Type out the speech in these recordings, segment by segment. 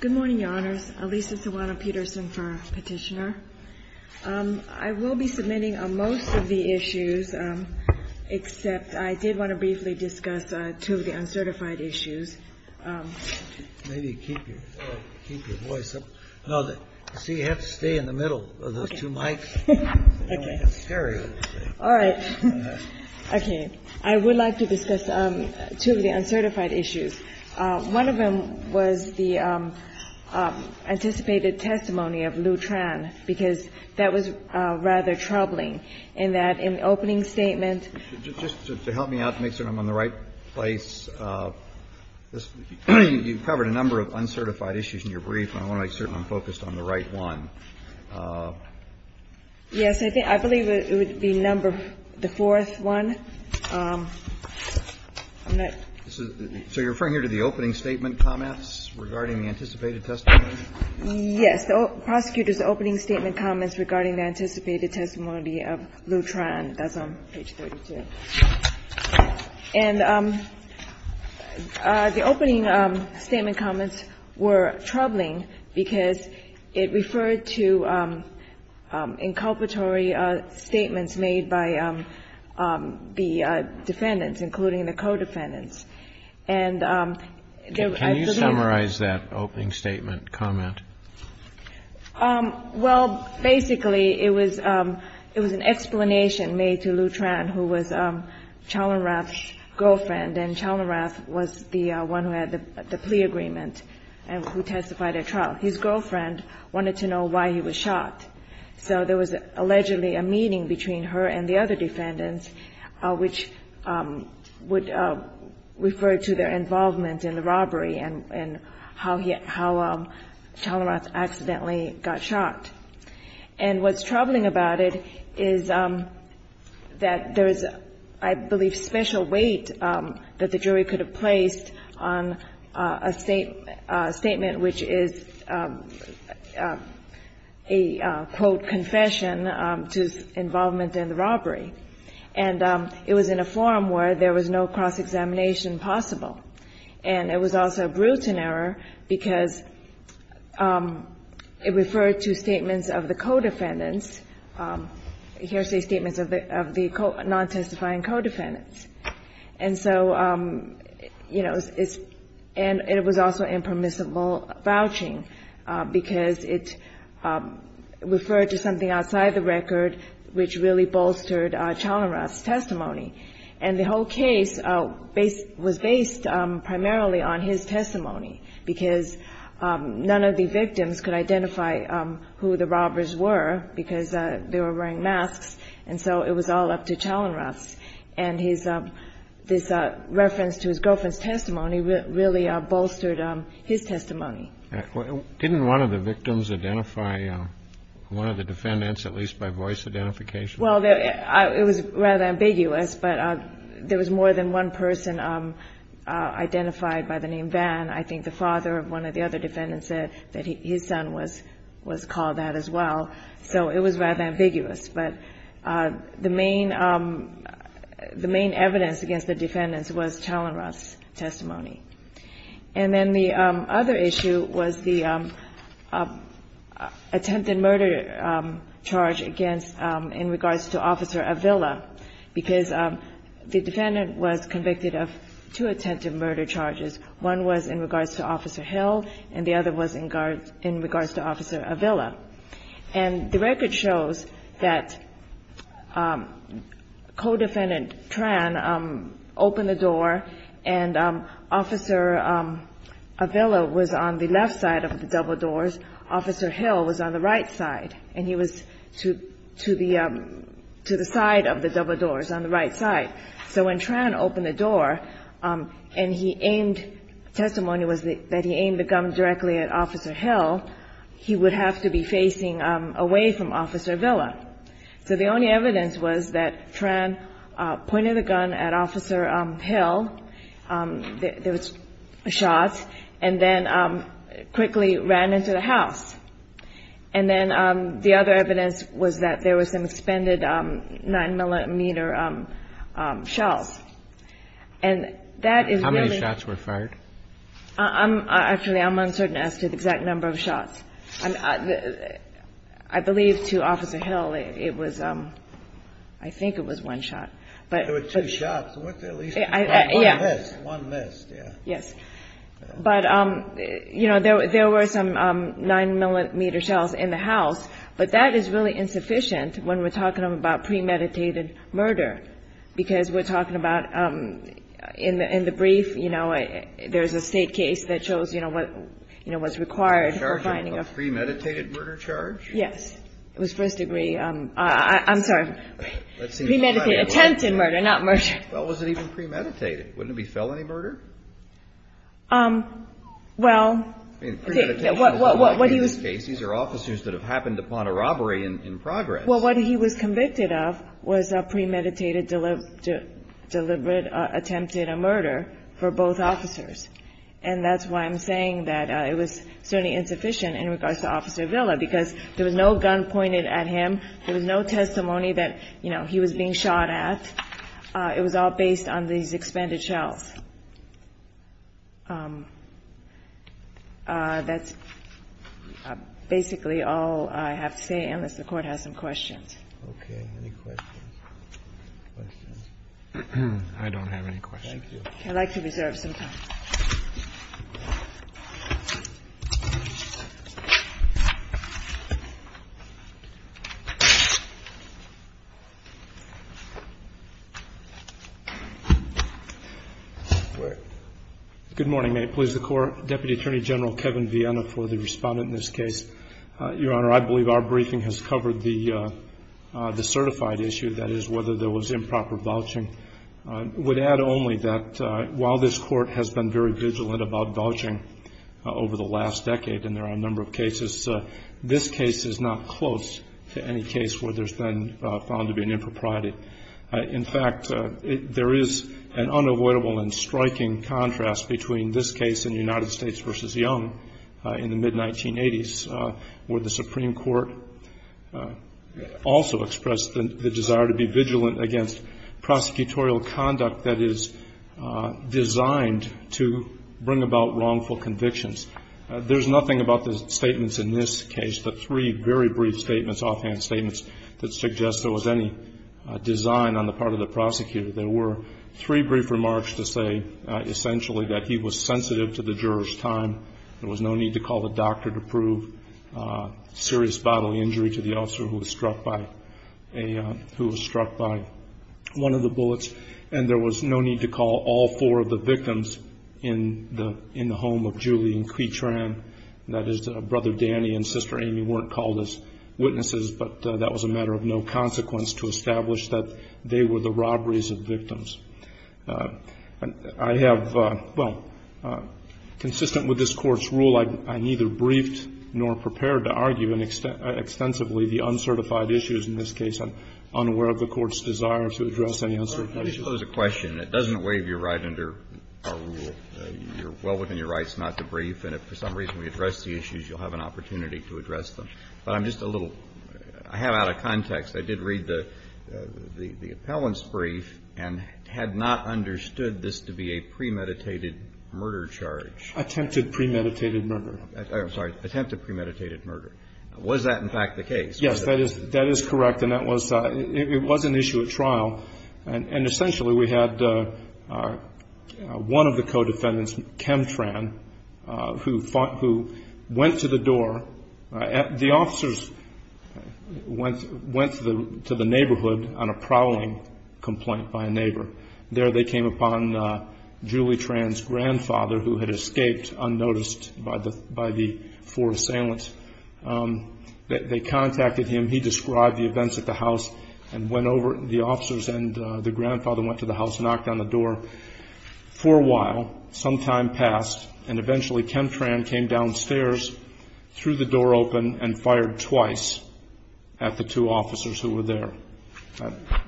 Good morning, Your Honors. Alisa Tawana-Peterson for Petitioner. I will be submitting on most of the issues, except I did want to briefly discuss two of the uncertified issues. Maybe keep your voice up. No, see, you have to stay in the middle of those two mics. All right. Okay. I would like to discuss two of the uncertified issues. One of them was the anticipated testimony of Lew Tran, because that was rather troubling, in that in the opening statement — Just to help me out to make sure I'm on the right place, you covered a number of uncertified issues in your brief, and I want to make certain I'm focused on the right one. Yes. I think — I believe it would be number — the fourth one. I'm not — So you're referring here to the opening statement comments regarding the anticipated testimony? Yes. Prosecutor's opening statement comments regarding the anticipated testimony of Lew Tran. That's on page 32. And the opening statement comments were troubling because it referred to inculpatory statements made by the defendants, including the co-defendants. And I believe — Can you summarize that opening statement comment? Well, basically, it was an explanation made to Lew Tran, who was Chalmerath's girlfriend. And Chalmerath was the one who had the plea agreement and who testified at trial. His girlfriend wanted to know why he was shot. So there was allegedly a meeting between her and the other defendants, which would refer to their involvement in the robbery and how Chalmerath accidentally got shot. And what's troubling about it is that there is, I believe, special weight that the jury could have placed on a statement which is a, quote, confession to involvement in the robbery. And it was in a forum where there was no cross-examination possible. And it was also a Bruton error because it referred to statements of the co-defendants, hearsay statements of the non-testifying co-defendants. And so, you know, it's — and it was also impermissible vouching because it referred to something outside the record which really bolstered Chalmerath's testimony. And the whole case based — was based primarily on his testimony because none of the victims could identify who the robbers were because they were wearing masks. And so it was all up to Chalmerath. And his — this reference to his girlfriend's testimony really bolstered his testimony. Didn't one of the victims identify one of the defendants, at least by voice identification? Well, it was rather ambiguous, but there was more than one person identified by the name Van. I think the father of one of the other defendants said that his son was called that as well. So it was rather ambiguous. But the main evidence against the defendants was Chalmerath's testimony. And then the other issue was the attempted murder charge against — in regards to Officer Avila, because the defendant was convicted of two attempted murder charges. One was in regards to Officer Hill, and the other was in regards to Officer Avila. And the record shows that co-defendant Tran opened the door and Officer Avila, was on the left side of the double doors, Officer Hill was on the right side, and he was to the side of the double doors on the right side. So when Tran opened the door and he aimed — testimony was that he aimed the gun directly at Officer Hill, he would have to be facing away from Officer Avila. So the only evidence was that Tran pointed the gun at Officer Hill. There was shots, and then quickly ran into the house. And then the other evidence was that there was some expended 9-millimeter shells. And that is really — How many shots were fired? Actually, I'm uncertain as to the exact number of shots. I believe to Officer Hill it was — I think it was one shot. There were two shots. One missed. One missed, yeah. Yes. But, you know, there were some 9-millimeter shells in the house, but that is really insufficient when we're talking about premeditated murder, because we're talking about in the brief, you know, there's a state case that shows, you know, what's required for finding a — Charging a premeditated murder charge? Yes. It was first degree — I'm sorry. Premeditated. Premeditated. Attempted murder, not murder. Well, was it even premeditated? Wouldn't it be felony murder? Well — I mean, premeditated is a law case. These are officers that have happened upon a robbery in progress. Well, what he was convicted of was a premeditated deliberate attempted murder for both officers. And that's why I'm saying that it was certainly insufficient in regards to Officer Avila, because there was no gun pointed at him. There was no testimony that, you know, he was being shot at. It was all based on these expended shells. That's basically all I have to say, unless the Court has some questions. Okay. Any questions? I don't have any questions. Thank you. I'd like to reserve some time. All right. Good morning. May it please the Court. Deputy Attorney General Kevin Viena for the respondent in this case. Your Honor, I believe our briefing has covered the certified issue, that is, whether there was improper vouching. I would add only that while this Court has been very vigilant about vouching over the last decade, and there are a number of cases, this case is not close to any case where there's been found to be an impropriety. In fact, there is an unavoidable and striking contrast between this case and United States v. Young in the mid-1980s, where the Supreme Court also expressed the desire to be vigilant against prosecutorial conduct that is designed to bring about wrongful convictions. There's nothing about the statements in this case, the three very brief statements, offhand statements that suggest there was any design on the part of the prosecutor. There were three brief remarks to say, essentially, that he was sensitive to the juror's time. There was no need to call the doctor to prove serious bodily injury to the officer who was struck by one of the bullets. And there was no need to call all four of the victims in the home of Julie and Quy Tran. That is, Brother Danny and Sister Amy weren't called as witnesses, but that was a matter of no consequence to establish that they were the robberies of victims. I have, well, consistent with this Court's rule, I'm neither briefed nor prepared to argue extensively the uncertified issues in this case. I'm unaware of the Court's desire to address any uncertified issues. Kennedy. Let me just pose a question. It doesn't waive your right under our rule. You're well within your rights not to brief. And if for some reason we address the issues, you'll have an opportunity to address But I'm just a little – I have out of context. I did read the appellant's brief and had not understood this to be a premeditated murder charge. Attempted premeditated murder. I'm sorry. Attempted premeditated murder. Was that, in fact, the case? Yes, that is correct. And that was – it was an issue at trial. And essentially we had one of the co-defendants, Kem Tran, who fought – who went to the door. The officers went to the neighborhood on a prowling complaint by a neighbor. There they came upon Julie Tran's grandfather, who had escaped unnoticed by the four assailants. They contacted him. He described the events at the house and went over. The officers and the grandfather went to the house, knocked on the door for a while. Some time passed, and eventually Kem Tran came downstairs, threw the door open, and fired twice at the two officers who were there.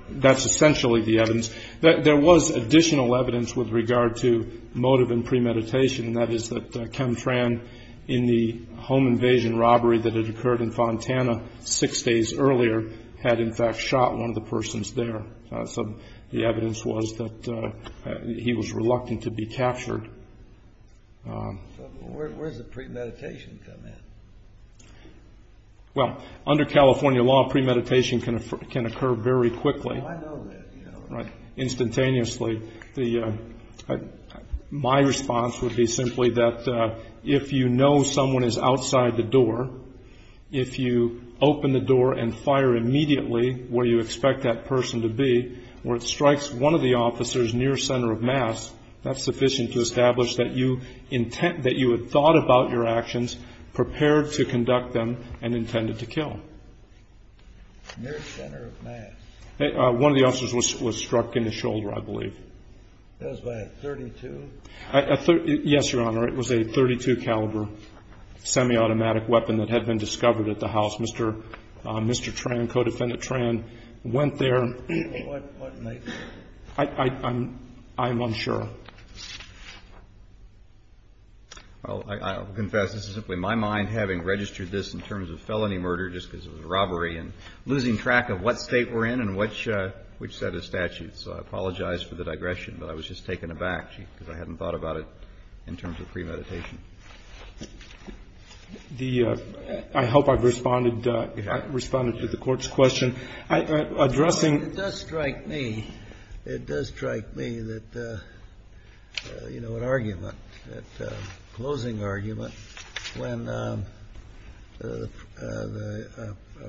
That's essentially the evidence. There was additional evidence with regard to motive and premeditation, and that is that Kem Tran, in the home invasion robbery that had occurred in Fontana six days earlier, had, in fact, shot one of the persons there. So the evidence was that he was reluctant to be captured. So where does the premeditation come in? Well, under California law, premeditation can occur very quickly. Oh, I know that. Instantaneously. My response would be simply that if you know someone is outside the door, if you open the door and fire immediately where you expect that person to be, where it strikes one of the officers near center of mass, that's sufficient to establish that you had thought about your actions, prepared to conduct them, and intended to kill. Near center of mass. One of the officers was struck in the shoulder, I believe. It was a .32? Yes, Your Honor. It was a .32 caliber semi-automatic weapon that had been discovered at the house. Mr. Tran, co-defendant Tran, went there. What night? I'm unsure. Well, I'll confess. This is simply my mind having registered this in terms of felony murder just because it was a robbery and losing track of what State we're in and which set of statutes. So I apologize for the digression, but I was just taken aback, because I hadn't thought about it in terms of premeditation. I hope I've responded to the Court's question. Addressing. It does strike me. It does strike me that, you know, an argument, a closing argument, when a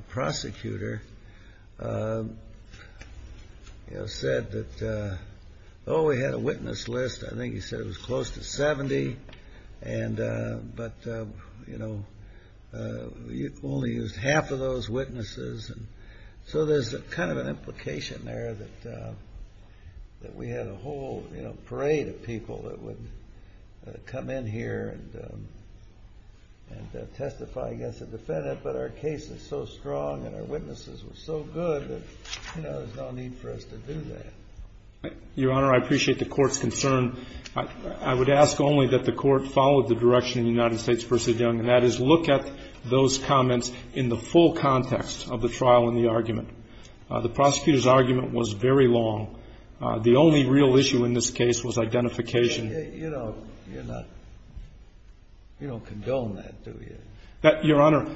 prosecutor, you know, said that, oh, we had a witness list. I think he said it was close to 70, but, you know, only used half of those witnesses. So there's kind of an implication there that we had a whole, you know, and testify against a defendant, but our case is so strong and our witnesses were so good that, you know, there's no need for us to do that. Your Honor, I appreciate the Court's concern. I would ask only that the Court follow the direction of the United States v. Young, and that is look at those comments in the full context of the trial and the argument. The prosecutor's argument was very long. The only real issue in this case was identification. You don't condone that, do you? Your Honor,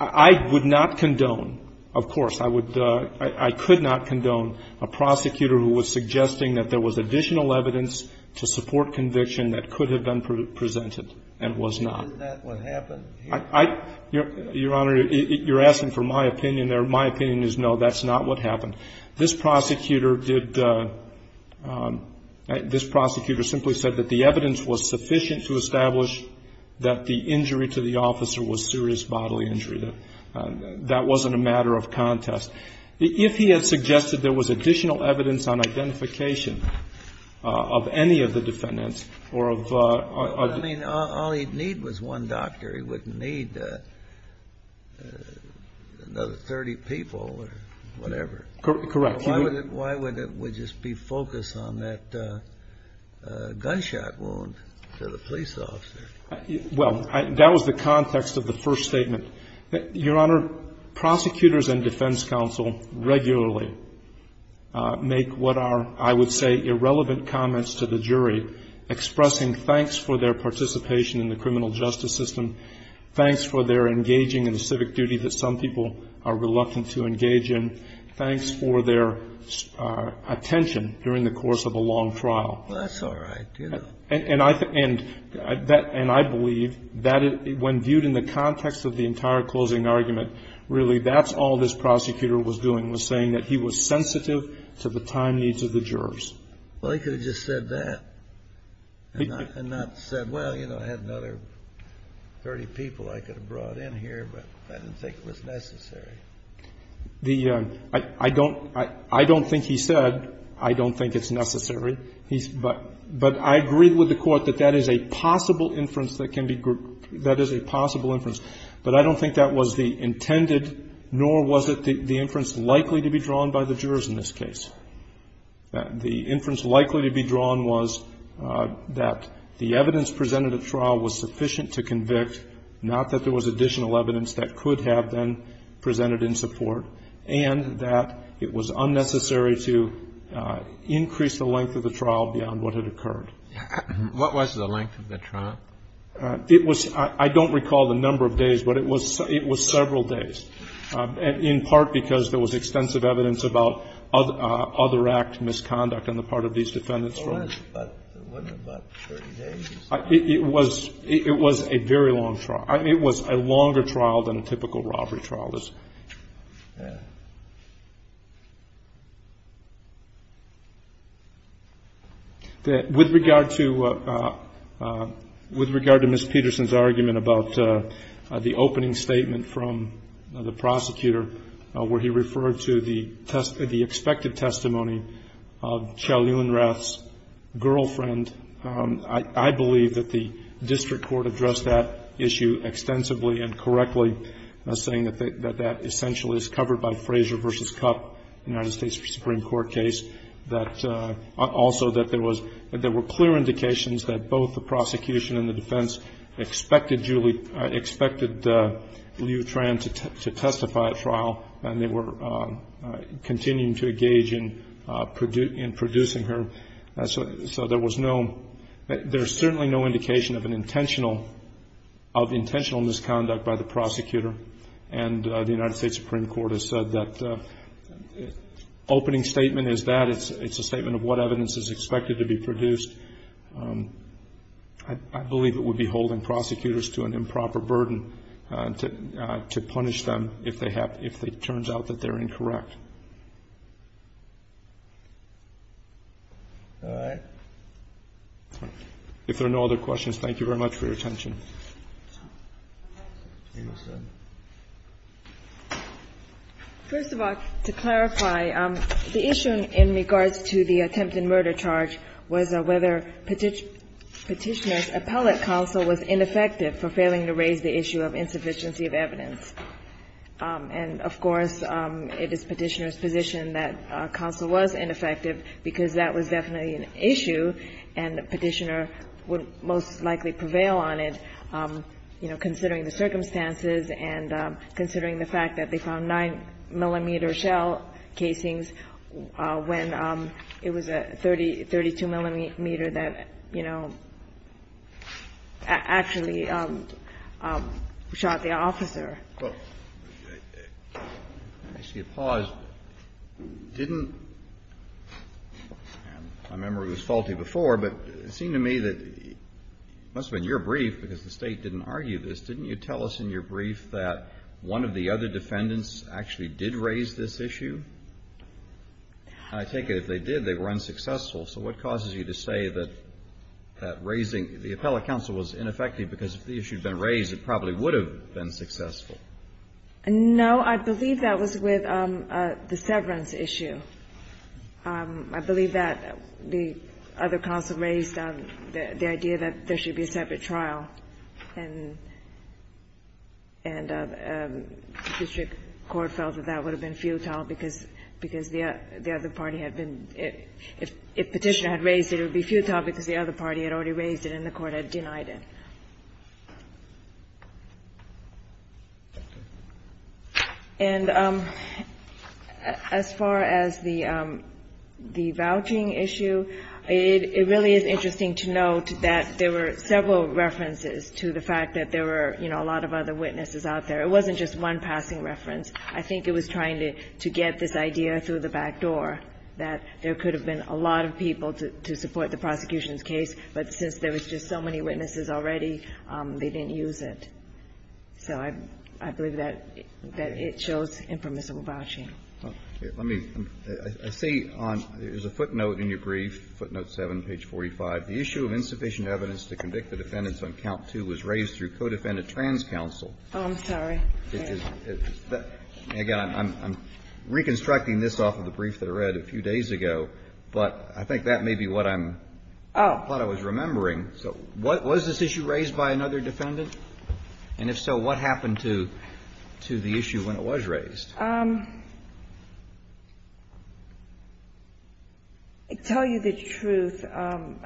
I would not condone. Of course, I could not condone a prosecutor who was suggesting that there was additional evidence to support conviction that could have been presented and was not. Isn't that what happened here? Your Honor, you're asking for my opinion there. My opinion is no, that's not what happened. This prosecutor did the – this prosecutor simply said that the evidence was sufficient to establish that the injury to the officer was serious bodily injury. That wasn't a matter of contest. If he had suggested there was additional evidence on identification of any of the defendants or of a – I mean, all he'd need was one doctor. He wouldn't need another 30 people or whatever. Correct. Why would it just be focused on that gunshot wound to the police officer? Well, that was the context of the first statement. Your Honor, prosecutors and defense counsel regularly make what are, I would say, irrelevant comments to the jury expressing thanks for their participation in the criminal justice system, thanks for their engaging in a civic duty that some people are reluctant to engage in, thanks for their attention during the course of a long trial. Well, that's all right. And I believe that when viewed in the context of the entire closing argument, really that's all this prosecutor was doing, was saying that he was sensitive to the time needs of the jurors. Well, he could have just said that and not said, well, you know, I had another 30 people I could have brought in here, but I didn't think it was necessary. The – I don't think he said, I don't think it's necessary. But I agree with the Court that that is a possible inference that can be – that is a possible inference. But I don't think that was the intended, nor was it the inference likely to be drawn by the jurors in this case. The inference likely to be drawn was that the evidence presented at trial was sufficient to convict, not that there was additional evidence that could have been presented in support, and that it was unnecessary to increase the length of the trial beyond what had occurred. What was the length of the trial? It was – I don't recall the number of days, but it was several days, in part because there was extensive evidence about other act misconduct on the part of these defendants from the court. It wasn't about 30 days. It was a very long trial. It was a longer trial than a typical robbery trial is. With regard to Ms. Peterson's argument about the opening statement from the prosecutor where he referred to the expected testimony of Chow Yun-Rath's girlfriend, I believe that the district court addressed that issue extensively and correctly, saying that that essentially is covered by Frazier v. Cupp, United States Supreme Court case. That also that there was – that there were clear indications that both the prosecution and the defense expected Julie – expected Liu Tran to testify at trial, and they were continuing to engage in producing her. So there was no – there's certainly no indication of an intentional – of intentional misconduct by the prosecutor. And the United States Supreme Court has said that opening statement is that. It's a statement of what evidence is expected to be produced. I believe it would be holding prosecutors to an improper burden to punish them if they have – if it turns out that they're incorrect. All right. If there are no other questions, thank you very much for your attention. First of all, to clarify, the issue in regards to the attempted murder charge was a webinar petitioner's appellate counsel was ineffective for failing to raise the issue of insufficiency of evidence. And, of course, it is Petitioner's position that counsel was ineffective because that was definitely an issue and Petitioner would most likely prevail on it, you know, considering the circumstances and considering the fact that they found 9-millimeter shell casings when it was a 30 – 32-millimeter that, you know, actually shot the officer. Well, let me see. Pause. Didn't – I remember it was faulty before, but it seemed to me that it must have been your brief, because the State didn't argue this, didn't you tell us in your brief that one of the other defendants actually did raise this issue? I take it if they did, they were unsuccessful. So what causes you to say that that raising – the appellate counsel was ineffective because if the issue had been raised, it probably would have been successful? No. I believe that was with the severance issue. I believe that the other counsel raised the idea that there should be a separate trial, and district court felt that that would have been futile because the other party had been – if Petitioner had raised it, it would be futile because the other party had already raised it and the court had denied it. And as far as the vouching issue, it really is interesting to note that there were several references to the fact that there were, you know, a lot of other witnesses out there. It wasn't just one passing reference. I think it was trying to get this idea through the back door that there could have been a lot of people to support the prosecution's case, but since there was just so many witnesses already, they didn't use it. So I believe that it shows impermissible vouching. Let me – I see on – there's a footnote in your brief, footnote 7, page 45. The issue of insufficient evidence to convict the defendants on count 2 was raised through co-defendant trans counsel. Oh, I'm sorry. Again, I'm reconstructing this off of the brief that I read a few days ago, but I think that may be what I'm – what I was remembering. So was this issue raised by another defendant? Tell you the truth, I'm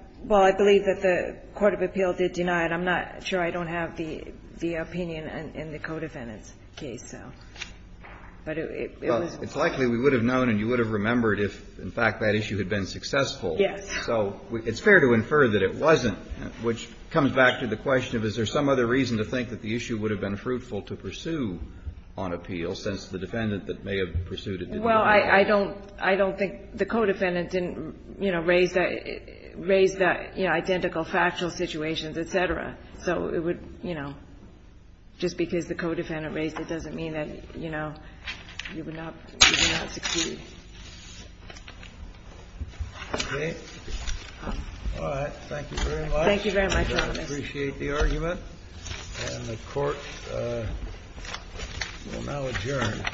– well, I believe that the court of appeal did deny it. I'm not sure I don't have the opinion in the co-defendant's case, so. But it was – Well, it's likely we would have known and you would have remembered if, in fact, that issue had been successful. Yes. So it's fair to infer that it wasn't, which comes back to the question of is there some other reason to think that the issue would have been fruitful to pursue on appeal since the defendant that may have pursued it did not? Well, I don't – I don't think the co-defendant didn't, you know, raise that – raise the, you know, identical factual situations, et cetera. So it would, you know, just because the co-defendant raised it doesn't mean that, you know, you would not – you would not succeed. Okay. Thank you very much. Thank you very much, Your Honor. I appreciate the argument. And the Court will now adjourn.